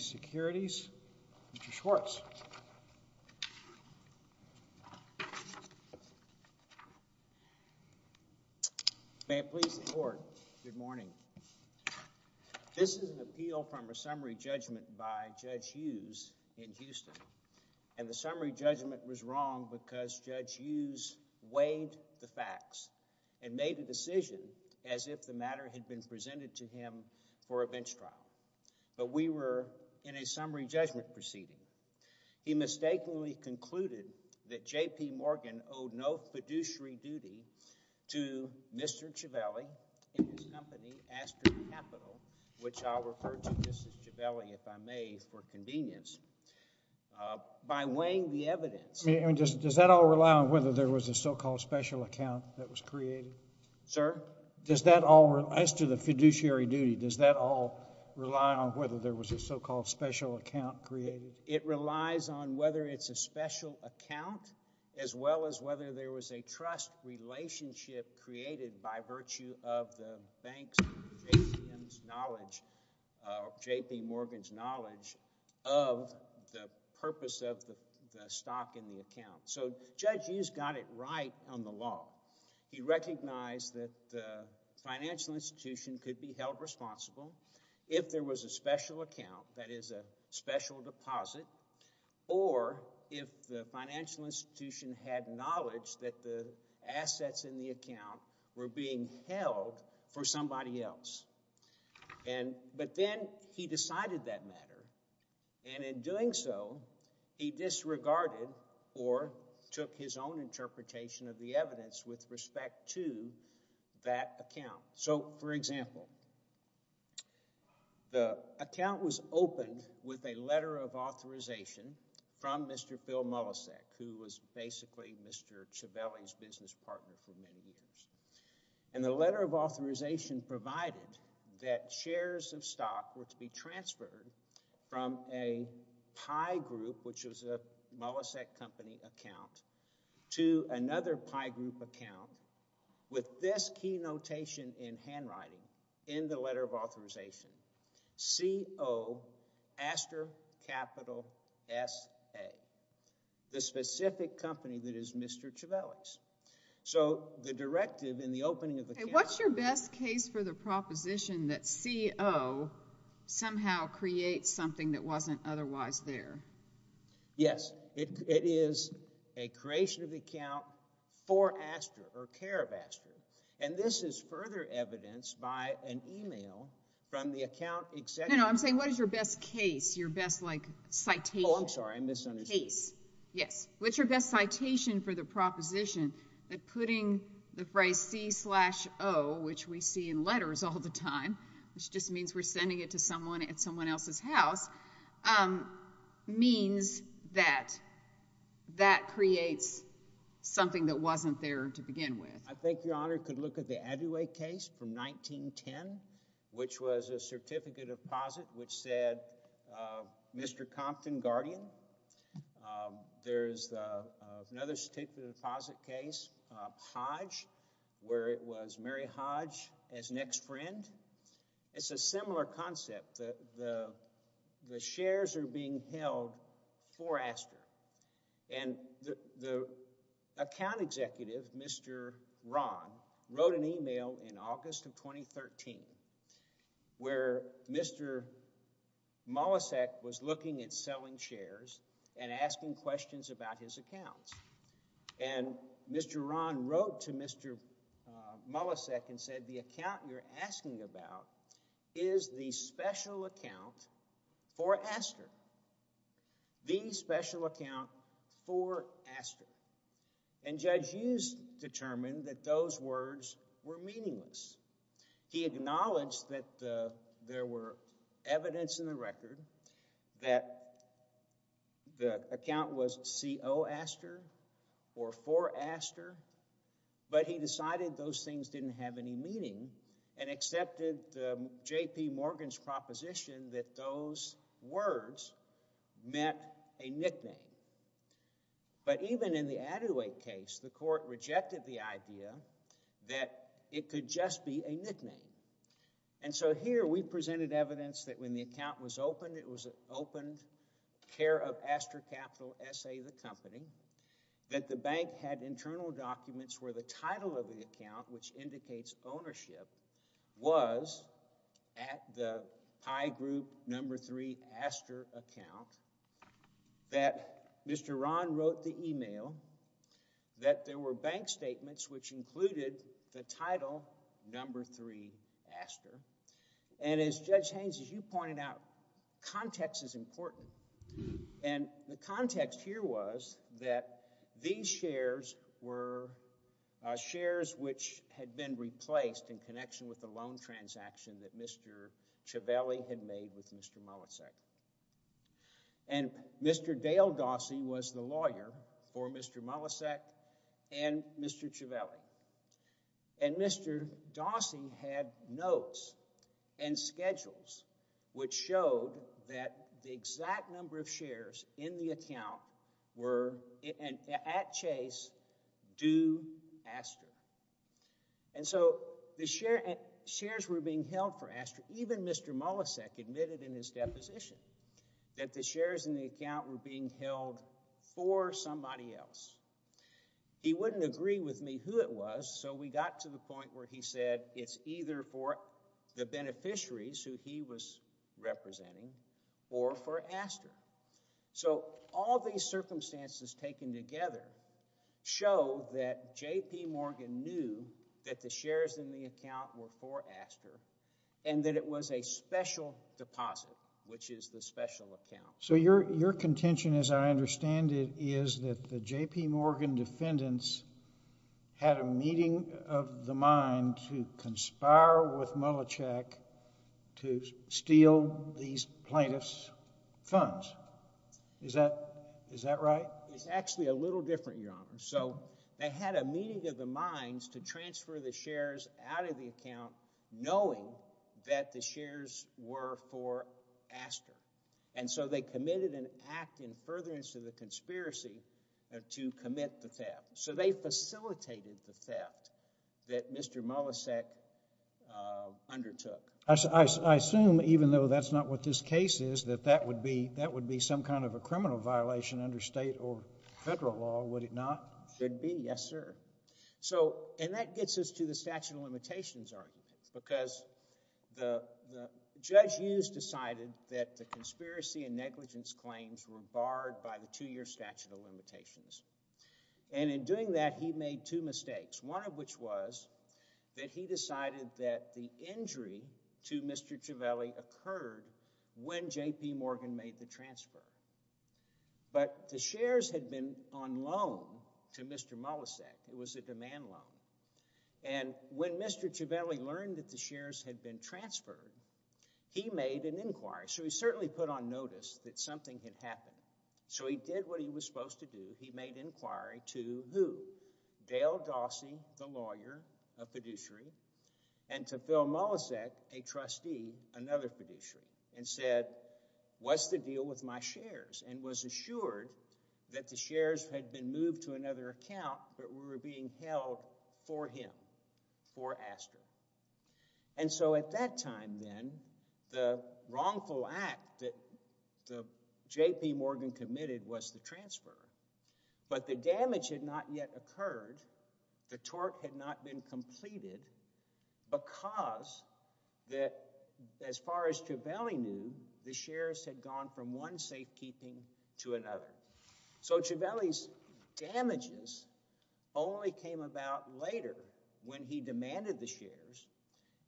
Securities, Mr. Schwartz. May it please the Court, good morning. This is an appeal from a summary judgment by Judge Hughes in Houston. And the summary judgment was wrong because Judge Hughes weighed the facts and made a decision as if the matter had been presented to him for a bench trial. But we were in a summary judgment proceeding. He mistakenly concluded that J.P. Morgan owed no fiduciary duty to Mr. Civelli and his company Astor Capital, which I'll refer to just as Civelli, if I may, for convenience, by weighing the evidence. I mean, does that all rely on whether there was a so-called special account that was created? Sir? Does that all, as to the fiduciary duty, does that all rely on whether there was a so-called special account created? It relies on whether it's a special account as well as whether there was a trust relationship created by virtue of the bank's knowledge, J.P. Morgan's knowledge, of the purpose of the stock in the account. So Judge Hughes got it right on the law. He recognized that the financial institution could be held responsible if there was a special account, that is, a special deposit, or if the financial institution had knowledge that the assets in the account were being held for somebody else. But then he decided that matter, and in doing so, he disregarded or took his own interpretation of the evidence with respect to that account. So, for example, the account was opened with a letter of authorization from Mr. Bill Molisek, who was basically Mr. Civelli's business partner for many years. And the letter of authorization provided that shares of stock were to be transferred from a pie group, which was a Molisek company account, to another pie group account with this key notation in handwriting in the letter of authorization, CO, aster, capital, S, A, the specific company that is Mr. Civelli's. So the directive in the opening of the account— What's your best case for the proposition that CO somehow creates something that wasn't otherwise there? Yes. It is a creation of the account for aster, or care of aster. And this is further evidenced by an email from the account executive— No, no. I'm saying what is your best case, your best, like, citation. Oh, I'm sorry. I misunderstood. Case. Yes. What's your best citation for the proposition that putting the phrase C-slash-O, which we see in letters all the time, which just means we're sending it to someone at someone else's house, means that that creates something that wasn't there to begin with? I think Your Honor could look at the Aduay case from 1910, which was a certificate of deposit, which said, Mr. Compton, guardian. There's another certificate of deposit case, Hodge, where it was Mary Hodge as next friend. It's a similar concept that the shares are being held for aster. And the account executive, Mr. Ron, wrote an email in August of 2013, where Mr. Molisek was looking at selling shares and asking questions about his accounts. And Mr. Ron wrote to Mr. Molisek and said, the account you're asking about is the special account for aster. The special account for aster. And Judge Hughes determined that those words were meaningless. He acknowledged that there were evidence in the record that the account was C-O aster or for aster, but he decided those things didn't have any meaning and accepted J.P. Words meant a nickname. But even in the Aduay case, the court rejected the idea that it could just be a nickname. And so here we presented evidence that when the account was opened, it was an opened care of Aster Capital S.A. the company, that the bank had internal documents where the title of the account, which indicates ownership, was at the pie group number three aster account, that Mr. Ron wrote the email, that there were bank statements which included the title number three aster. And as Judge Haynes, as you pointed out, context is important. And the context here was that these shares were shares which had been replaced in connection with the loan transaction that Mr. Ciavelli had made with Mr. Molisek. And Mr. Dale Dawsey was the lawyer for Mr. Molisek and Mr. Ciavelli. And Mr. Dawsey had notes and schedules which showed that the exact number of shares in the account were, at Chase, due aster. And so the shares were being held for aster. Even Mr. Molisek admitted in his deposition that the shares in the account were being held for somebody else. He wouldn't agree with me who it was, so we got to the point where he said it's either for the beneficiaries who he was representing or for aster. So all these circumstances taken together show that J.P. Morgan knew that the shares in the account were for aster and that it was a special deposit, which is the special account. So your contention, as I understand it, is that the J.P. Morgan defendants had a meeting of the mind to conspire with Molisek to steal these plaintiffs' funds. Is that right? It's actually a little different, Your Honor. So they had a meeting of the minds to transfer the shares out of the account knowing that the shares were for aster. And so they committed an act in furtherance to the conspiracy to commit the theft. So they facilitated the theft that Mr. Molisek undertook. I assume, even though that's not what this case is, that that would be some kind of a criminal violation under state or federal law, would it not? Should be, yes, sir. So and that gets us to the statute of limitations argument, because Judge Hughes decided that the conspiracy and negligence claims were barred by the two-year statute of limitations. And in doing that, he made two mistakes, one of which was that he decided that the injury to Mr. Ciavelli occurred when J.P. Morgan made the transfer. But the shares had been on loan to Mr. Molisek. It was a demand loan. And when Mr. Ciavelli learned that the shares had been transferred, he made an inquiry. So he certainly put on notice that something had happened. So he did what he was supposed to do. He made inquiry to who? Dale Dawsey, the lawyer, a fiduciary, and to Phil Molisek, a trustee, another fiduciary, and said, what's the deal with my shares? And was assured that the shares had been moved to another account, but were being held for him, for Aster. And so at that time, then, the wrongful act that J.P. Morgan committed was the transfer. But the damage had not yet occurred. The tort had not been completed, because as far as Ciavelli knew, the shares had gone from one safekeeping to another. So Ciavelli's damages only came about later, when he demanded the shares,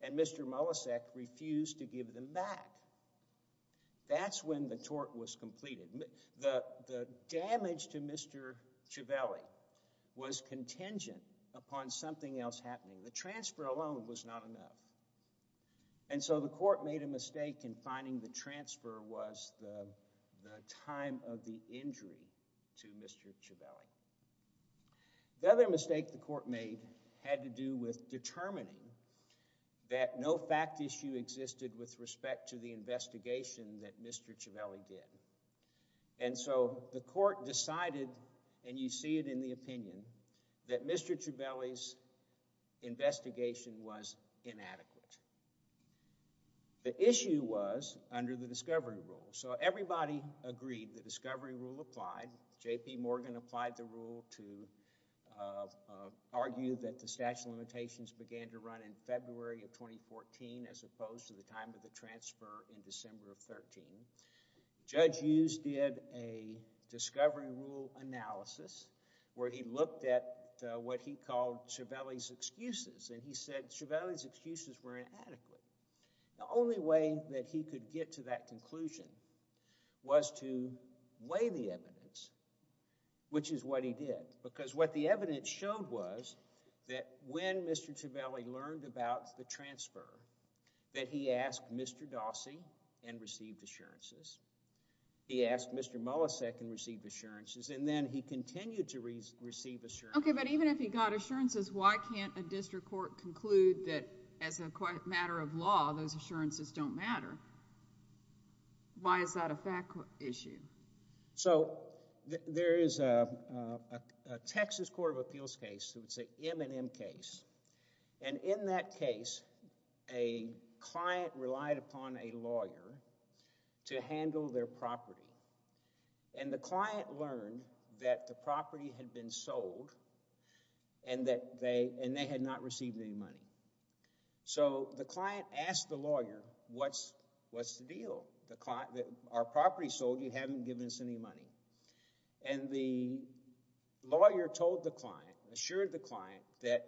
and Mr. Molisek refused to give them back. That's when the tort was completed. The damage to Mr. Ciavelli was contingent upon something else happening. The transfer alone was not enough. And so the court made a mistake in finding the transfer was the time of the injury to Mr. Ciavelli. The other mistake the court made had to do with determining that no fact issue existed with respect to the investigation that Mr. Ciavelli did. And so the court decided, and you see it in the opinion, that Mr. Ciavelli's investigation was inadequate. The issue was under the discovery rule. So everybody agreed the discovery rule applied. J.P. Morgan applied the rule to argue that the statute of limitations began to run in February of 2014, as opposed to the time of the transfer in December of 2013. Judge Hughes did a discovery rule analysis, where he looked at what he called Ciavelli's excuses, and he said Ciavelli's excuses were inadequate. The only way that he could get to that conclusion was to weigh the evidence, which is what he did. Because what the evidence showed was that when Mr. Ciavelli learned about the transfer, that he asked Mr. Dawsey and received assurances. He asked Mr. Molisek and received assurances, and then he continued to receive assurances. Okay, but even if he got assurances, why can't a district court conclude that as a matter of law, those assurances don't matter? Why is that a fact issue? So there is a Texas Court of Appeals case, it's an M&M case. And in that case, a client relied upon a lawyer to handle their property. And the client learned that the property had been sold, and they had not received any money. So the client asked the lawyer, what's the deal? Our property's sold, you haven't given us any money. And the lawyer told the client, assured the client, that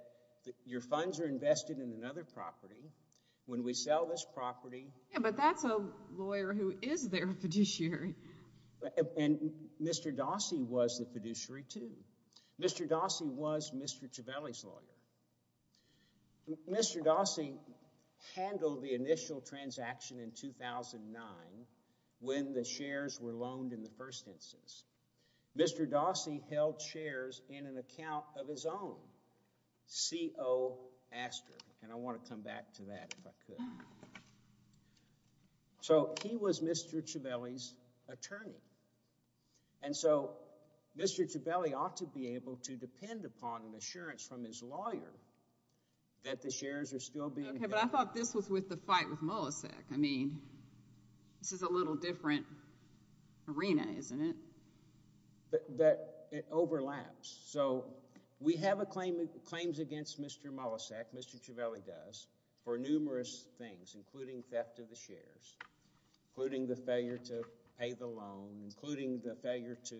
your funds are invested in another When we sell this property... Yeah, but that's a lawyer who is their fiduciary. And Mr. Dawsey was the fiduciary, too. Mr. Dawsey was Mr. Ciavelli's lawyer. Mr. Dawsey handled the initial transaction in 2009, when the shares were loaned in the first instance. Mr. Dawsey held shares in an account of his own, CO Aster, and I want to come back to that, if I could. So he was Mr. Ciavelli's attorney. And so Mr. Ciavelli ought to be able to depend upon an assurance from his lawyer that the shares are still being held. Okay, but I thought this was with the fight with Molisek. I mean, this is a little different arena, isn't it? But it overlaps. So we have claims against Mr. Molisek, Mr. Ciavelli does, for numerous things, including theft of the shares, including the failure to pay the loan, including the failure to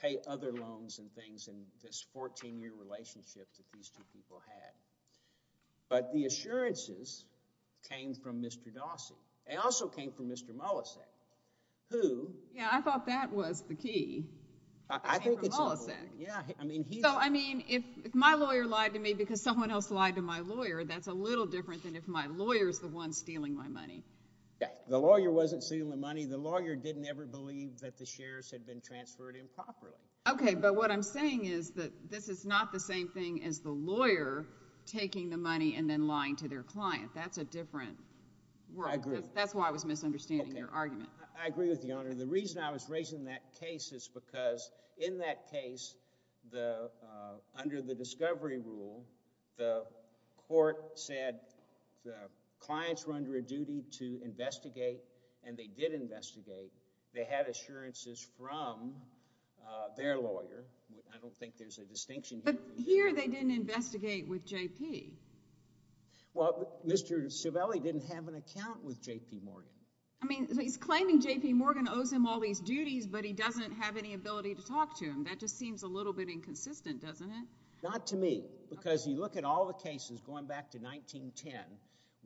pay other loans and things in this 14-year relationship that these two people had. But the assurances came from Mr. Dawsey. They also came from Mr. Molisek, who... Yeah, I thought that was the key. I think it's... Came from Molisek. Yeah, I mean, he... So, I mean, if my lawyer lied to me because someone else lied to my lawyer, that's a little different than if my lawyer's the one stealing my money. The lawyer wasn't stealing the money. The lawyer didn't ever believe that the shares had been transferred improperly. Okay, but what I'm saying is that this is not the same thing as the lawyer taking the money and then lying to their client. That's a different world. I agree. Because that's why I was misunderstanding your argument. Okay. I agree with you, Your Honor. The reason I was raising that case is because in that case, under the discovery rule, the court said the clients were under a duty to investigate, and they did investigate. They had assurances from their lawyer. I don't think there's a distinction here. But here, they didn't investigate with JP. Well, Mr. Civelli didn't have an account with JP Morgan. I mean, he's claiming JP Morgan owes him all these duties, but he doesn't have any ability to talk to him. That just seems a little bit inconsistent, doesn't it? Not to me. Because you look at all the cases going back to 1910,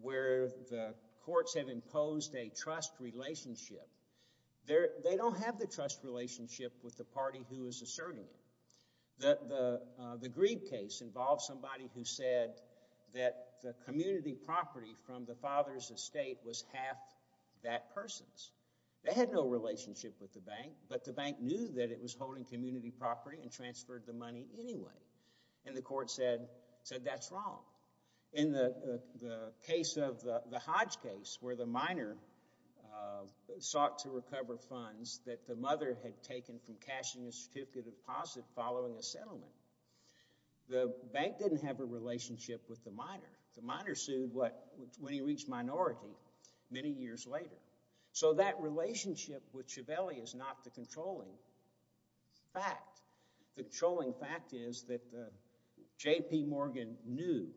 where the courts have imposed a trust relationship. They don't have the trust relationship with the party who is asserting it. The Grieve case involved somebody who said that the community property from the father's estate was half that person's. They had no relationship with the bank, but the bank knew that it was holding community property and transferred the money anyway. And the court said, that's wrong. In the case of the Hodge case, where the minor sought to recover funds that the mother had taken from cashing a certificate of deposit following a settlement, the bank didn't have a relationship with the minor. The minor sued when he reached minority many years later. So that relationship with Civelli is not the controlling fact. The controlling fact is that JP Morgan knew.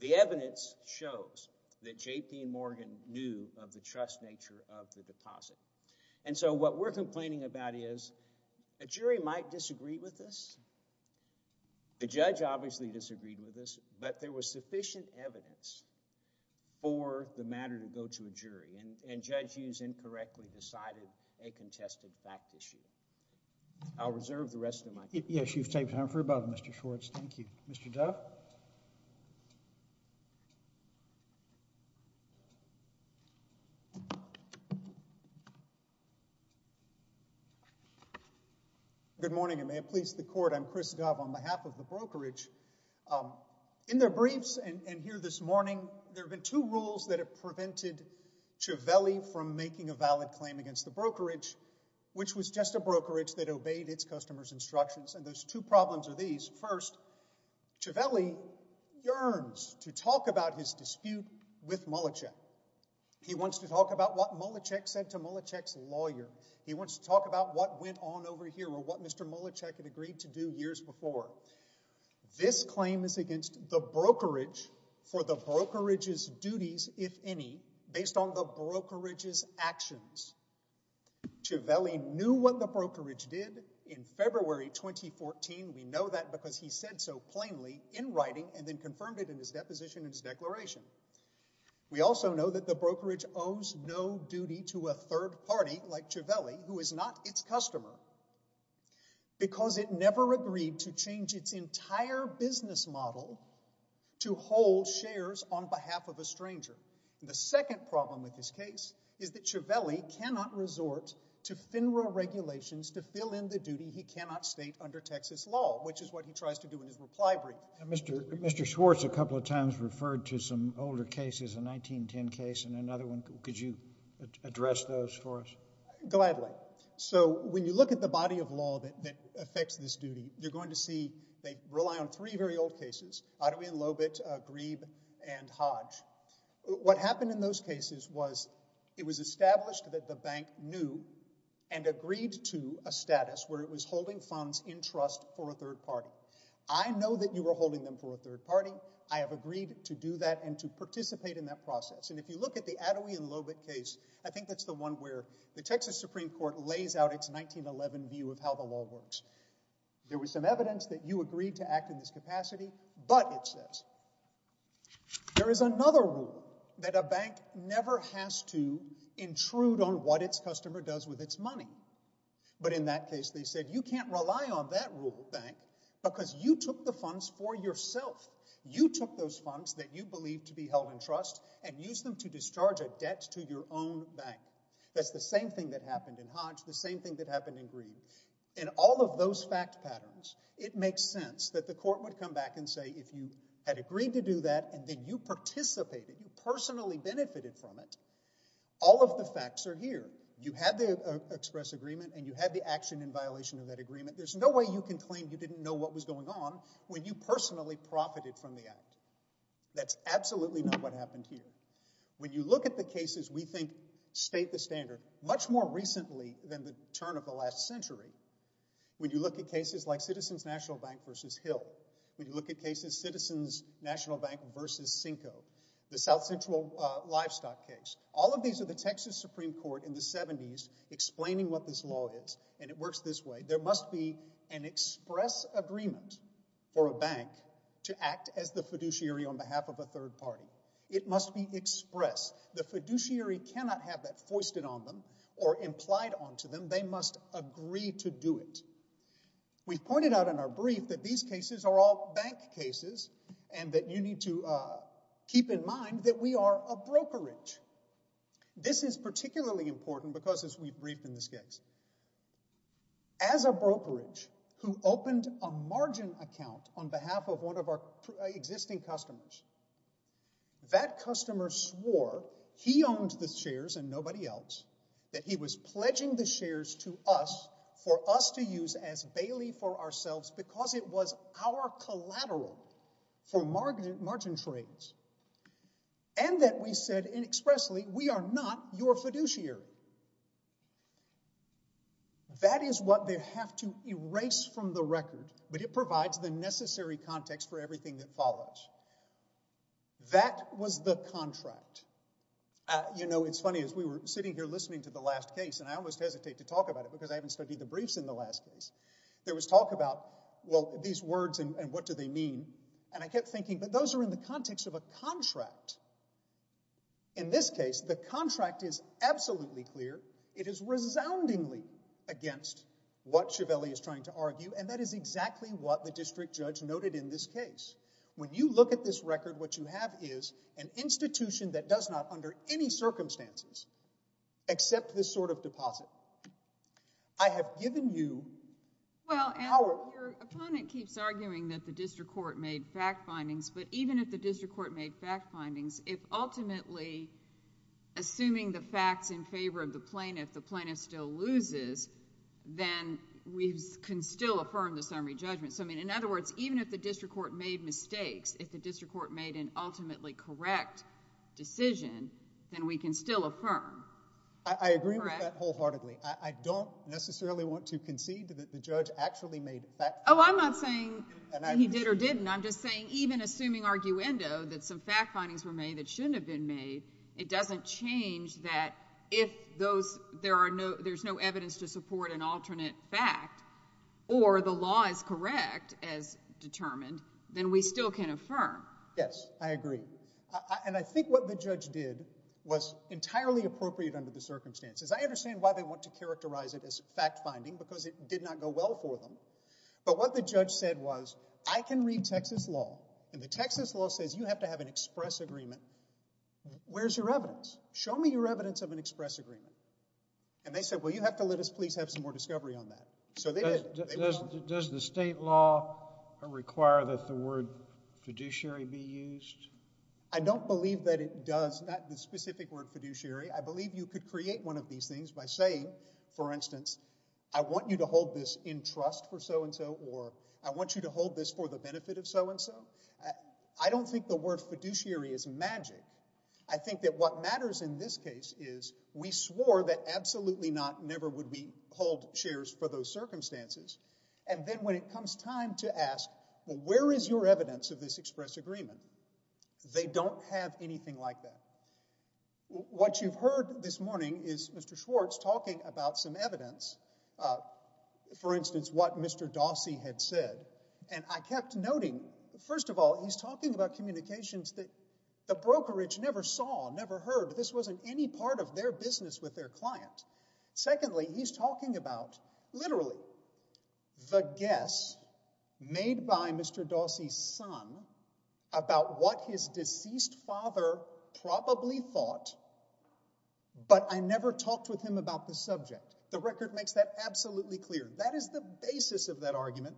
The evidence shows that JP Morgan knew of the trust nature of the deposit. And so what we're complaining about is, a jury might disagree with this. The judge obviously disagreed with this, but there was sufficient evidence for the matter to go to a jury. And Judge Hughes incorrectly decided a contested fact issue. I'll reserve the rest of my time. Yes, you've taken time for your brother, Mr. Schwartz. Thank you. Mr. Dove? Good morning. Good morning. May it please the court, I'm Chris Dove on behalf of the brokerage. In their briefs and here this morning, there have been two rules that have prevented Civelli from making a valid claim against the brokerage, which was just a brokerage that obeyed its customer's instructions. And those two problems are these. First, Civelli yearns to talk about his dispute with Mulachek. He wants to talk about what Mulachek said to Mulachek's lawyer. He wants to talk about what went on over here or what Mr. Mulachek had agreed to do years before. This claim is against the brokerage for the brokerage's duties, if any, based on the brokerage's actions. Civelli knew what the brokerage did in February 2014. We know that because he said so plainly in writing and then confirmed it in his deposition and his declaration. We also know that the brokerage owes no duty to a third party like Civelli, who is not its customer, because it never agreed to change its entire business model to hold shares on behalf of a stranger. The second problem with this case is that Civelli cannot resort to FINRA regulations to fill in the duty he cannot state under Texas law, which is what he tries to do in his reply brief. Mr. Schwartz a couple of times referred to some older cases, a 1910 case and another one. Could you address those for us? Gladly. So when you look at the body of law that affects this duty, you're going to see they rely on three very old cases, Ottoman Lobet, Grebe, and Hodge. What happened in those cases was it was established that the bank knew and agreed to a status where it was holding funds in trust for a third party. I know that you were holding them for a third party. I have agreed to do that and to participate in that process. And if you look at the Attaway and Lobet case, I think that's the one where the Texas Supreme Court lays out its 1911 view of how the law works. There was some evidence that you agreed to act in this capacity, but it says there is another rule that a bank never has to intrude on what its customer does with its money. But in that case, they said, you can't rely on that rule, bank, because you took the funds for yourself. You took those funds that you believe to be held in trust and used them to discharge a debt to your own bank. That's the same thing that happened in Hodge, the same thing that happened in Grebe. In all of those fact patterns, it makes sense that the court would come back and say, if you had agreed to do that and then you participated, you personally benefited from it, all of the facts are here. You had to express agreement and you had the action in violation of that agreement. There's no way you can claim you didn't know what was going on when you personally profited from the act. That's absolutely not what happened here. When you look at the cases we think state the standard much more recently than the turn of the last century, when you look at cases like Citizens National Bank v. Hill, when you look at cases Citizens National Bank v. Cinco, the South Central Livestock case, all of these are the Texas Supreme Court in the 70s explaining what this law is and it works this way. There must be an express agreement for a bank to act as the fiduciary on behalf of a third party. It must be express. The fiduciary cannot have that foisted on them or implied onto them. They must agree to do it. We've pointed out in our brief that these cases are all bank cases and that you need to keep in mind that we are a brokerage. This is particularly important because, as we brief in this case, as a brokerage who opened a margin account on behalf of one of our existing customers, that customer swore he owned the shares and nobody else, that he was pledging the shares to us for us to and that we said inexpressly, we are not your fiduciary. That is what they have to erase from the record, but it provides the necessary context for everything that follows. That was the contract. You know, it's funny, as we were sitting here listening to the last case, and I almost hesitate to talk about it because I haven't studied the briefs in the last case, there was talk about, well, these words and what do they mean? And I kept thinking, but those are in the context of a contract. In this case, the contract is absolutely clear. It is resoundingly against what Chiavelli is trying to argue, and that is exactly what the district judge noted in this case. When you look at this record, what you have is an institution that does not, under any circumstances, accept this sort of deposit. I have given you power. Your opponent keeps arguing that the district court made fact findings, but even if the district court made fact findings, if ultimately, assuming the facts in favor of the plaintiff, the plaintiff still loses, then we can still affirm the summary judgment. So, I mean, in other words, even if the district court made mistakes, if the district court made an ultimately correct decision, then we can still affirm. I agree with that wholeheartedly. I don't necessarily want to concede that the judge actually made fact findings. Oh, I'm not saying he did or didn't. I'm just saying even assuming arguendo, that some fact findings were made that shouldn't have been made, it doesn't change that if there's no evidence to support an alternate fact or the law is correct as determined, then we still can affirm. Yes, I agree. And I think what the judge did was entirely appropriate under the circumstances. I understand why they want to characterize it as fact finding, because it did not go well for them, but what the judge said was, I can read Texas law, and the Texas law says you have to have an express agreement. Where's your evidence? Show me your evidence of an express agreement, and they said, well, you have to let us please have some more discovery on that. Does the state law require that the word fiduciary be used? I don't believe that it does, not the specific word fiduciary. I believe you could create one of these things by saying, for instance, I want you to hold this in trust for so and so, or I want you to hold this for the benefit of so and so. I don't think the word fiduciary is magic. I think that what matters in this case is we swore that absolutely not never would we hold shares for those circumstances, and then when it comes time to ask, well, where is your evidence of this express agreement? They don't have anything like that. What you've heard this morning is Mr. Schwartz talking about some evidence, for instance, what Mr. Dossi had said, and I kept noting, first of all, he's talking about communications that the brokerage never saw, never heard. This wasn't any part of their business with their client. Secondly, he's talking about, literally, the guess made by Mr. Dossi's son about what his son probably thought, but I never talked with him about the subject. The record makes that absolutely clear. That is the basis of that argument,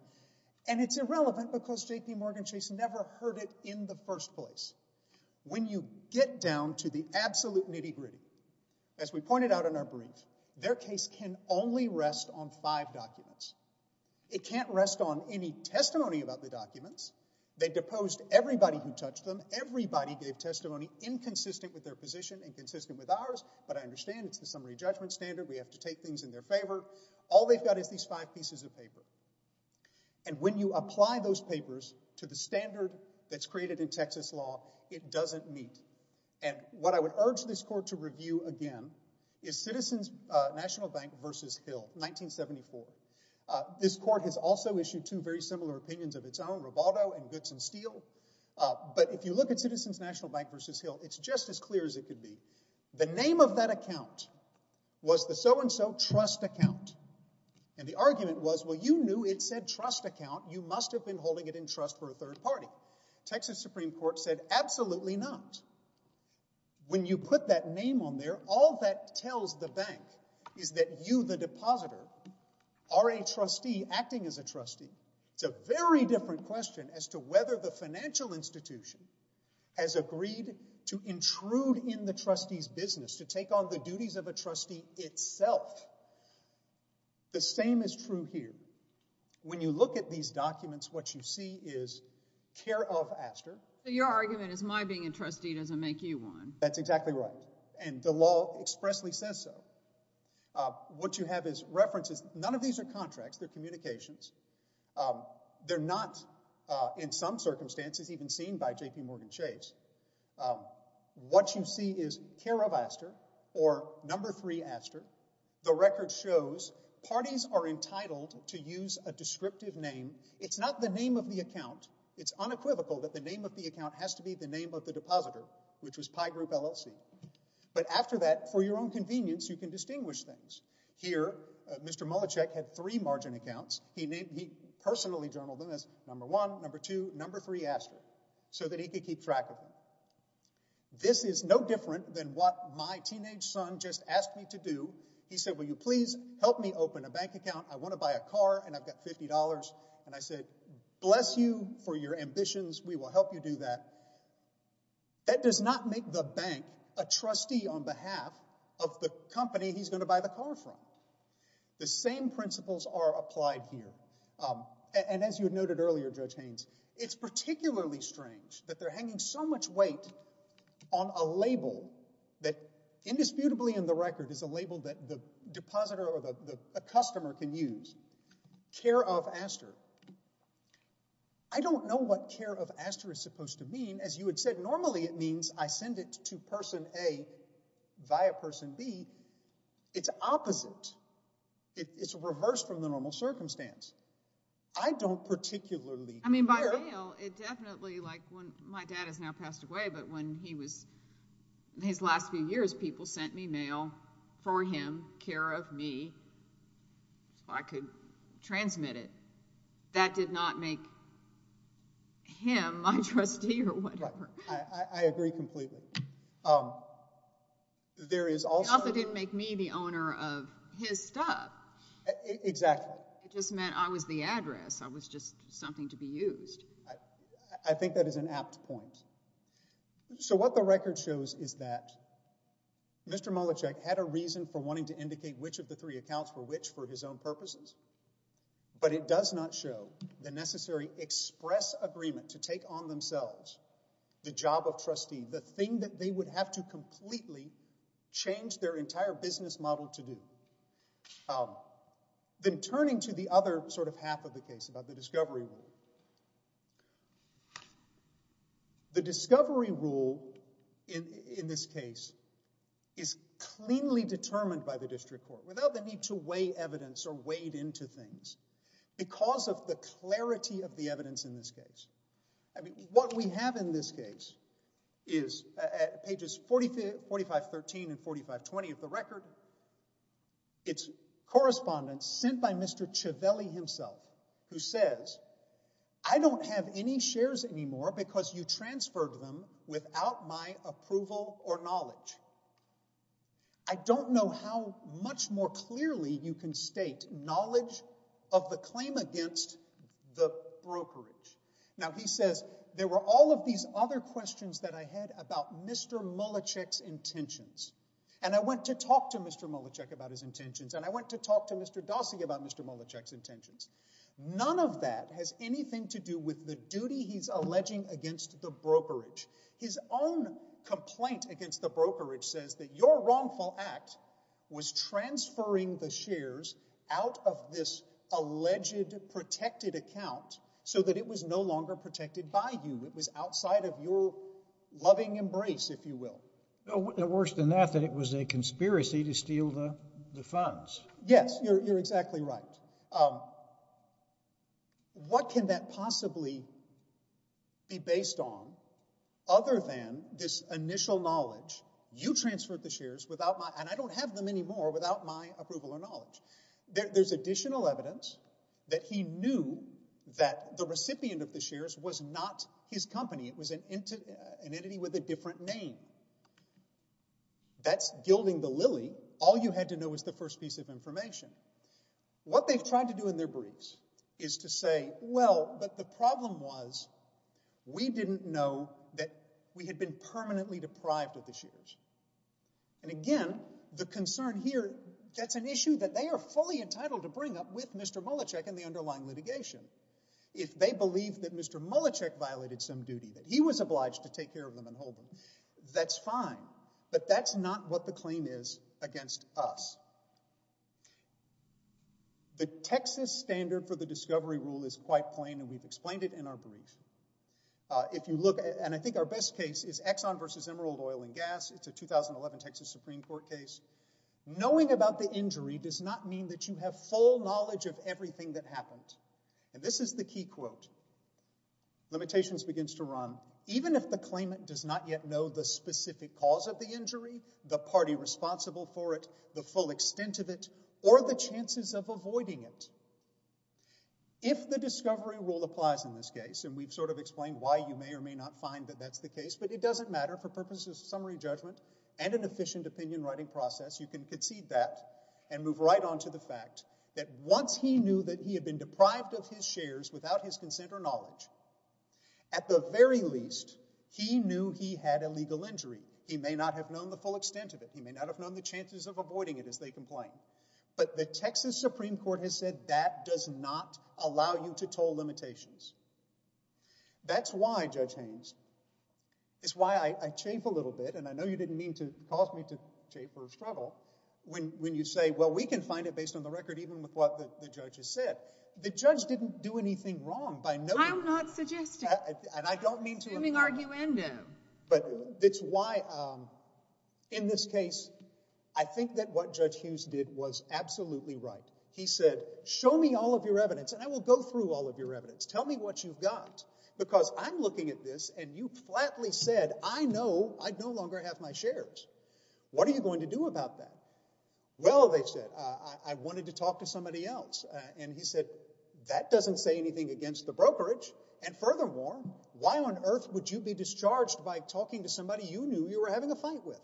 and it's irrelevant because JPMorgan Chase never heard it in the first place. When you get down to the absolute nitty-gritty, as we pointed out in our brief, their case can only rest on five documents. It can't rest on any testimony about the documents. They deposed everybody who touched them. Everybody gave testimony inconsistent with their position, inconsistent with ours, but I understand it's the summary judgment standard. We have to take things in their favor. All they've got is these five pieces of paper, and when you apply those papers to the standard that's created in Texas law, it doesn't meet. What I would urge this court to review, again, is Citizens National Bank v. Hill, 1974. This court has also issued two very similar opinions of its own, Rivaldo and Goodson Steele, but if you look at Citizens National Bank v. Hill, it's just as clear as it could be. The name of that account was the so-and-so trust account, and the argument was, well, you knew it said trust account. You must have been holding it in trust for a third party. Texas Supreme Court said, absolutely not. When you put that name on there, all that tells the bank is that you, the depositor, are a trustee acting as a trustee. It's a very different question as to whether the financial institution has agreed to intrude in the trustee's business, to take on the duties of a trustee itself. The same is true here. When you look at these documents, what you see is care of Aster. Your argument is my being a trustee doesn't make you one. That's exactly right, and the law expressly says so. What you have is references. None of these are contracts. They're communications. They're not, in some circumstances, even seen by JPMorgan Chase. What you see is care of Aster, or number three Aster. The record shows parties are entitled to use a descriptive name. It's not the name of the account. It's unequivocal that the name of the account has to be the name of the depositor, which was Pi Group LLC. But after that, for your own convenience, you can distinguish things. Here, Mr. Mluczek had three margin accounts. He personally journaled them as number one, number two, number three Aster, so that he could keep track of them. This is no different than what my teenage son just asked me to do. He said, will you please help me open a bank account? I want to buy a car, and I've got $50. And I said, bless you for your ambitions. We will help you do that. That does not make the bank a trustee on behalf of the company he's going to buy the car from. The same principles are applied here. And as you noted earlier, Judge Haynes, it's particularly strange that they're hanging so much weight on a label that, indisputably in the record, is a label that the depositor or the customer can use. Care of Aster. I don't know what care of Aster is supposed to mean. As you had said, normally it means I send it to person A via person B. It's opposite. It's reversed from the normal circumstance. I don't particularly care. I mean, by mail, it definitely, like when my dad has now passed away, but when he was, in his last few years, people sent me mail for him, care of me, if I could transmit it. That did not make him my trustee or whatever. I agree completely. There is also- It also didn't make me the owner of his stuff. Exactly. It just meant I was the address. I was just something to be used. I think that is an apt point. So what the record shows is that Mr. Molechek had a reason for wanting to indicate which of the three accounts were which for his own purposes, but it does not show the necessary express agreement to take on themselves the job of trustee, the thing that they would have to completely change their entire business model to do. Then turning to the other sort of half of the case about the discovery rule. The discovery rule in this case is cleanly determined by the district court without the need to weigh evidence or weighed into things because of the clarity of the evidence in this case. I mean, what we have in this case is at pages 4513 and 4520 of the record, it's correspondence sent by Mr. Ciavelli himself, who says, I don't have any shares anymore because you transferred them without my approval or knowledge. I don't know how much more clearly you can state knowledge of the claim against the brokerage. Now, he says, there were all of these other questions that I had about Mr. Molechek's intentions, and I went to talk to Mr. Molechek about his intentions, and I went to talk to Mr. Dossey about Mr. Molechek's intentions. None of that has anything to do with the duty he's alleging against the brokerage. His own complaint against the brokerage says that your wrongful act was transferring the shares out of this alleged protected account so that it was no longer protected by you. It was outside of your loving embrace, if you will. Worse than that, that it was a conspiracy to steal the funds. Yes, you're exactly right. What can that possibly be based on other than this initial knowledge, you transferred the shares without my, and I don't have them anymore, without my approval or knowledge? There's additional evidence that he knew that the recipient of the shares was not his company. It was an entity with a different name. That's gilding the lily. All you had to know was the first piece of information. What they've tried to do in their briefs is to say, well, but the problem was we didn't know that we had been permanently deprived of the shares. And again, the concern here, that's an issue that they are fully entitled to bring up with Mr. Molechek in the underlying litigation. If they believe that Mr. Molechek violated some duty that he was obliged to take care of them and hold them, that's fine. But that's not what the claim is against us. The Texas standard for the discovery rule is quite plain, and we've explained it in our brief. If you look, and I think our best case is Exxon versus Emerald Oil and Gas. It's a 2011 Texas Supreme Court case. Knowing about the injury does not mean that you have full knowledge of everything that happened. And this is the key quote. Limitations begins to run. Even if the claimant does not yet know the specific cause of the injury, the party responsible for it, the full extent of it, or the chances of avoiding it. If the discovery rule applies in this case, and we've sort of explained why you may or may not find that that's the case, but it doesn't matter for purposes of summary judgment and an efficient opinion writing process, you can concede that and move right on to the fact that once he knew that he had been deprived of his shares without his consent or knowledge, at the very least, he knew he had a legal injury. He may not have known the full extent of it. He may not have known the chances of avoiding it, as they complain. But the Texas Supreme Court has said that does not allow you to toll limitations. That's why, Judge Haynes, it's why I chafe a little bit, and I know you didn't mean to cause me to chafe or struggle, when you say, well, we can find it based on the record, even with what the judge has said. The judge didn't do anything wrong by no means. I'm not suggesting. And I don't mean to. Assuming arguendum. But it's why, in this case, I think that what Judge Hughes did was absolutely right. He said, show me all of your evidence, and I will go through all of your evidence. Tell me what you've got, because I'm looking at this, and you flatly said, I know I no longer have my shares. What are you going to do about that? Well, they said, I wanted to talk to somebody else. And he said, that doesn't say anything against the brokerage. And furthermore, why on earth would you be discharged by talking to somebody you knew you were having a fight with?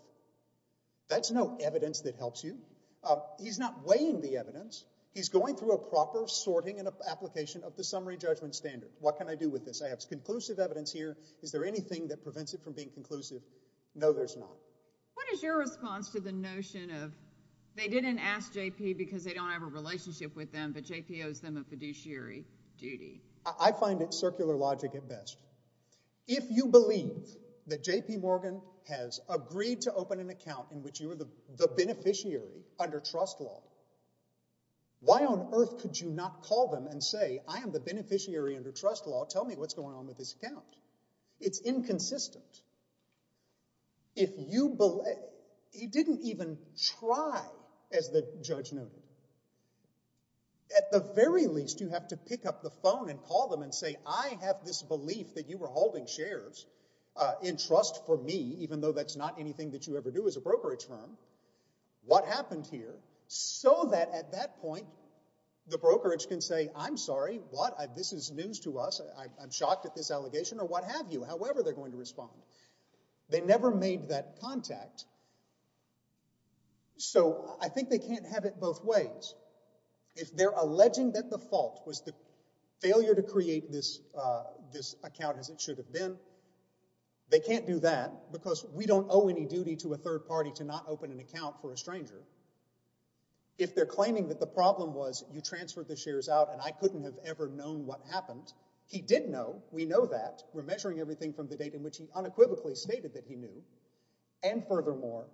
That's no evidence that helps you. He's not weighing the evidence. He's going through a proper sorting and application of the summary judgment standard. What can I do with this? I have conclusive evidence here. Is there anything that prevents it from being conclusive? No, there's not. What is your response to the notion of, they didn't ask JP because they don't have a relationship with them, but JP owes them a fiduciary duty? I find it circular logic at best. If you believe that JP Morgan has agreed to open an account in which you are the beneficiary under trust law, why on earth could you not call them and say, I am the beneficiary under trust law. Tell me what's going on with this account. It's inconsistent. He didn't even try, as the judge noted. At the very least, you have to pick up the phone and call them and say, I have this belief that you were holding shares in trust for me, even though that's not anything that you ever do as a brokerage firm. What happened here? So that at that point, the brokerage can say, I'm sorry. What? This is news to us. I'm shocked at this allegation. Or what have you, however they're going to respond. They never made that contact, so I think they can't have it both ways. If they're alleging that the fault was the failure to create this account as it should have been, they can't do that, because we don't owe any duty to a third party to not open an account for a stranger. If they're claiming that the problem was you transferred the shares out and I couldn't have ever known what happened, he did know. We know that. We're measuring everything from the date in which he unequivocally stated that he knew. And furthermore,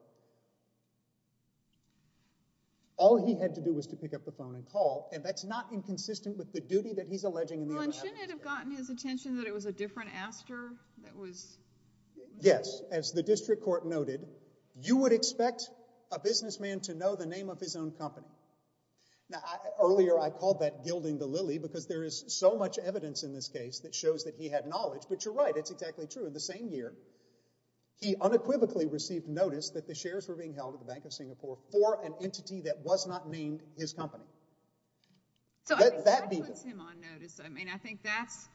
all he had to do was to pick up the phone and call. And that's not inconsistent with the duty that he's alleging in the other evidence. Well, and shouldn't it have gotten his attention that it was a different aster that was? Yes. As the district court noted, you would expect a businessman to know the name of his own company. Earlier, I called that gilding the lily, because there is so much evidence in this case that shows that he had knowledge. But you're right, it's exactly true. In the same year, he unequivocally received notice that the shares were being held at the Bank of Singapore for an entity that was not named his company. So that puts him on notice. I mean, I think that's,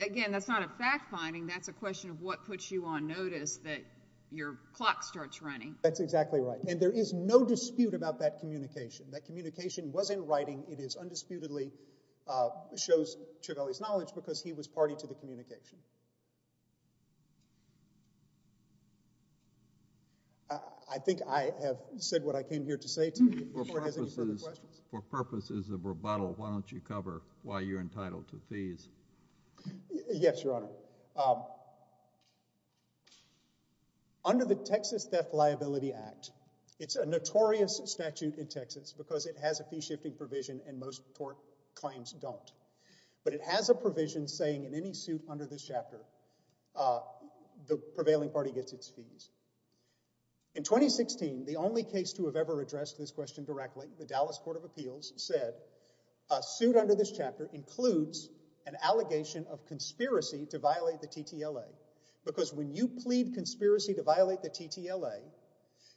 again, that's not a fact finding. That's a question of what puts you on notice that your clock starts running. That's exactly right. And there is no dispute about that communication. That communication was in writing. It is undisputedly, shows Ciavelli's knowledge, because he was party to the communication. I think I have said what I came here to say to you. Before it has any further questions. For purposes of rebuttal, why don't you cover why you're entitled to fees? Yes, Your Honor. Under the Texas Theft Liability Act, it's a notorious statute in Texas, because it has a fee-shifting provision, and most court claims don't. But it has a provision saying in any suit under this chapter, the prevailing party gets its fees. In 2016, the only case to have ever addressed this question directly, the Dallas Court of Appeals, said a suit under this chapter includes an allegation of conspiracy to violate the TTLA. Because when you plead conspiracy to violate the TTLA,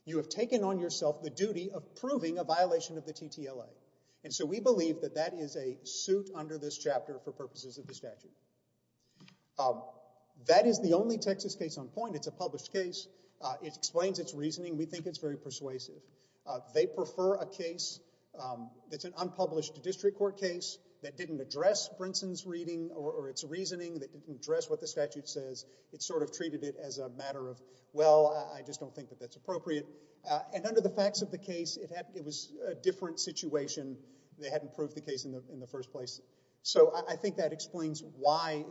you have taken on yourself the duty of proving a violation of the TTLA. And so we believe that that is a suit under this chapter for purposes of the statute. That is the only Texas case on point. It's a published case. It explains its reasoning. We think it's very persuasive. They prefer a case that's an unpublished district court case, that didn't address Brinson's reading or its reasoning, that didn't address what the statute says. It sort of treated it as a matter of, well, I just don't think that that's appropriate. And under the facts of the case, it was a different situation. They hadn't proved the case in the first place. So I think that explains why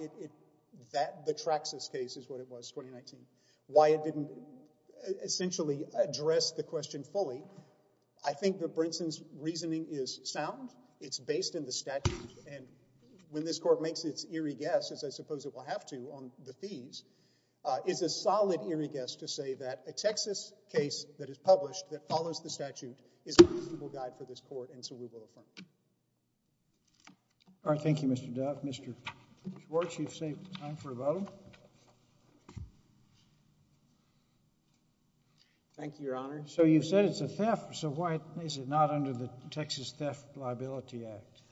the Traxxas case is what it was, 2019, why it didn't essentially address the question fully. I think that Brinson's reasoning is sound. It's based in the statute. And when this court makes its eerie guess, as I suppose it will have to on the fees, it's a solid, eerie guess to say that a Texas case that is published, that follows the statute, is a reasonable guide for this court. And so we will affirm it. All right. Thank you, Mr. Duff. Mr. Schwartz, you've saved time for a vote. Thank you, Your Honor. So you've said it's a theft. So why is it not under the Texas Theft Liability Act?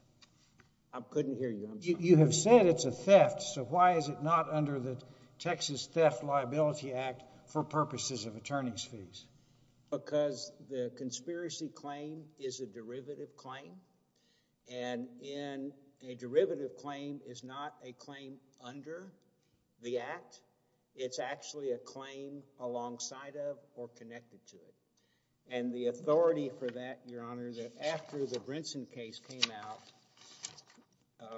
I couldn't hear you. You have said it's a theft. So why is it not under the Texas Theft Liability Act for purposes of attorney's fees? Because the conspiracy claim is a derivative claim. And a derivative claim is not a claim under the act. It's actually a claim alongside of or connected to it. And the authority for that, Your Honor, that after the Brinson case came out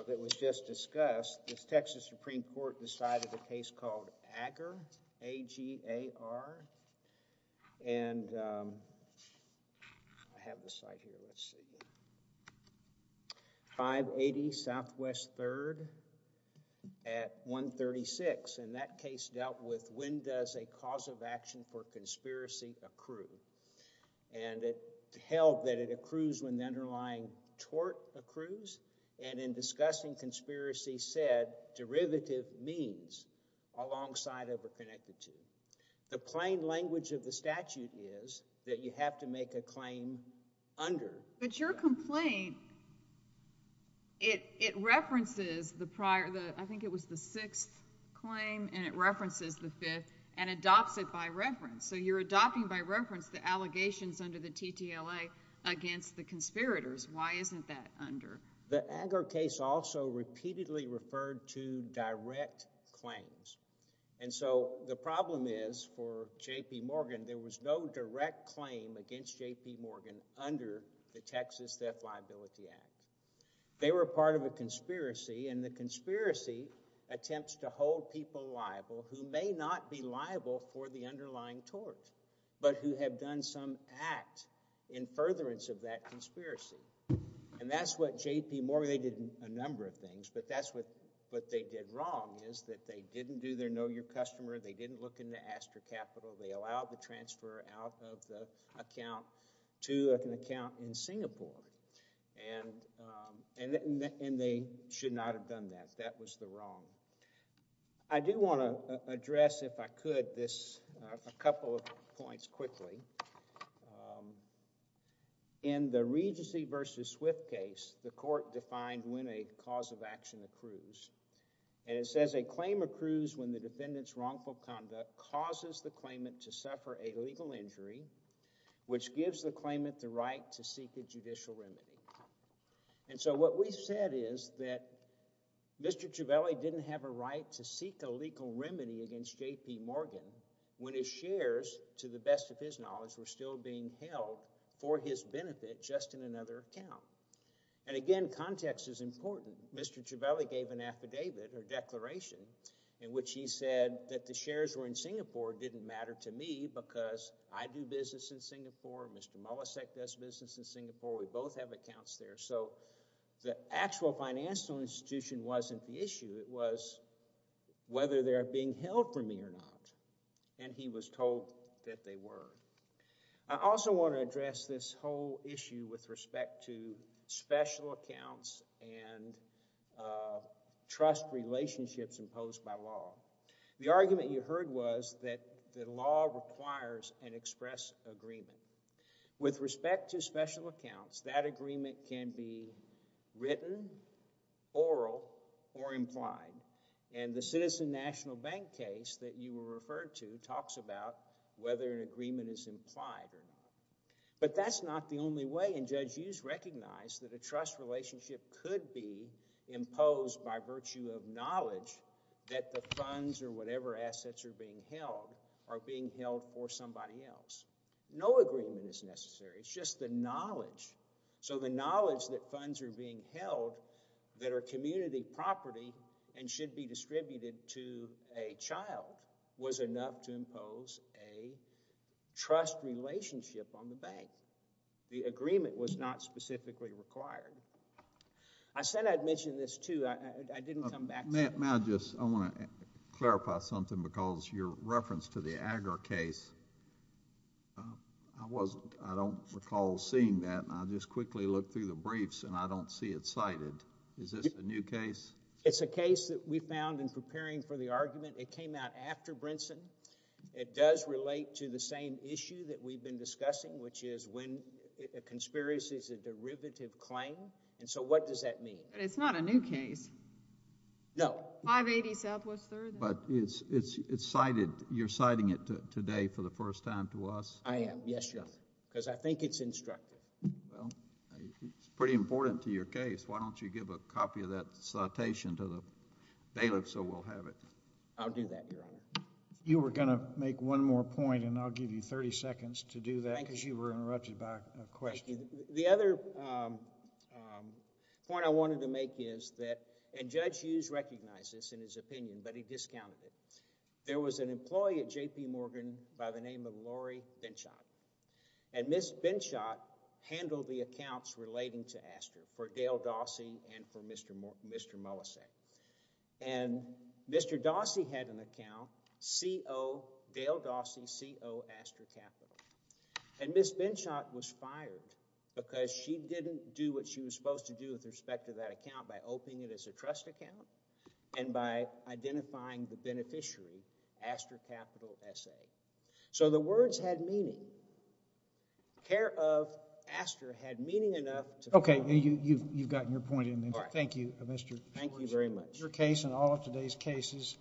that was just discussed, the Texas Supreme Court decided a case called AGR, A-G-A-R. And I have the slide here. Let's see. 580 Southwest 3rd at 136. And that case dealt with when does a cause of action for conspiracy accrue. And it held that it accrues when the underlying tort accrues. And in discussing conspiracy said, derivative means alongside of or connected to. The plain language of the statute is that you have to make a claim under. But your complaint, it references the prior, I think it was the sixth claim, and it references the fifth and adopts it by reference. So you're adopting by reference the allegations under the TTLA against the conspirators. Why isn't that under? The AGR case also repeatedly referred to direct claims. And so the problem is for JP Morgan, there was no direct claim against JP Morgan under the Texas Theft Liability Act. They were part of a conspiracy, and the conspiracy attempts to hold people liable who may not be liable for the underlying tort, but who have done some act in furtherance of that conspiracy. And that's what JP Morgan, they did a number of things, but that's what they did wrong, is that they didn't do their know your customer, they didn't look into Astor Capital, they allowed the transfer out of the account to an account in Singapore. And they should not have done that. That was the wrong. I do want to address, if I could, this a couple of points quickly. In the Regency versus Swift case, the court defined when a cause of action accrues. And it says a claim accrues when the defendant's wrongful conduct causes the claimant to suffer a legal injury, which gives the claimant the right to seek a judicial remedy. And so what we said is that Mr. Ciavelli didn't have a right to seek a legal remedy against JP Morgan when his shares, to the best of his knowledge, were still being held for his benefit just in another account. And again, context is important. Mr. Ciavelli gave an affidavit, or declaration, in which he said that the shares were in Singapore didn't matter to me because I do business in Singapore, Mr. Molasek does business in Singapore, we both have accounts there. So the actual financial institution wasn't the issue. It was whether they are being held for me or not. And he was told that they were. I also want to address this whole issue with respect to special accounts and trust relationships imposed by law. The argument you heard was that the law requires an express agreement. With respect to special accounts, that agreement can be written, oral, or implied. And the Citizen National Bank case that you were referred to talks about whether an agreement is implied or not. But that's not the only way. And Judge Hughes recognized that a trust relationship could be imposed by virtue of knowledge that the funds or whatever assets are being held are being held for somebody else. No agreement is necessary. It's just the knowledge. So the knowledge that funds are being held that are community property and should be distributed to a child was enough to impose a trust relationship on the bank. The agreement was not specifically required. I said I'd mention this, too. I didn't come back to it. May I just, I want to clarify something, because your reference to the Agar case, I wasn't, I don't recall seeing that. And I just quickly looked through the briefs and I don't see it cited. Is this a new case? It's a case that we found in preparing for the argument. It came out after Brinson. It does relate to the same issue that we've been discussing, which is when a conspiracy is a derivative claim. And so what does that mean? But it's not a new case. No. 580 Southwest Third. But it's cited. You're citing it today for the first time to us? I am, yes, Your Honor. Because I think it's instructive. It's pretty important to your case. Why don't you give a copy of that citation to the bailiff so we'll have it? I'll do that, Your Honor. You were going to make one more point, and I'll give you 30 seconds to do that because you were interrupted by a question. The other point I wanted to make is that, and Judge Hughes recognized this in his opinion, but he discounted it. There was an employee at JP Morgan by the name of Lori Benshot. And Ms. Benshot handled the accounts relating to Astor for Dale Dawsey and for Mr. Molise. And Mr. Dawsey had an account, Dale Dawsey, CO Astor Capital. And Ms. Benshot was fired because she didn't do what she was supposed to do with respect to that account by opening it as a trust account and by identifying the beneficiary, Astor Capital SA. So the words had meaning. The care of Astor had meaning enough to fund it. OK, you've gotten your point in there. Thank you, Mr. Schwartz. Thank you very much. Your case and all of today's cases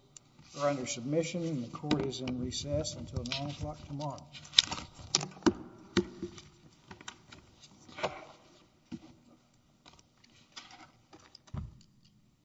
are under submission, and the court is in recess until 9 o'clock tomorrow.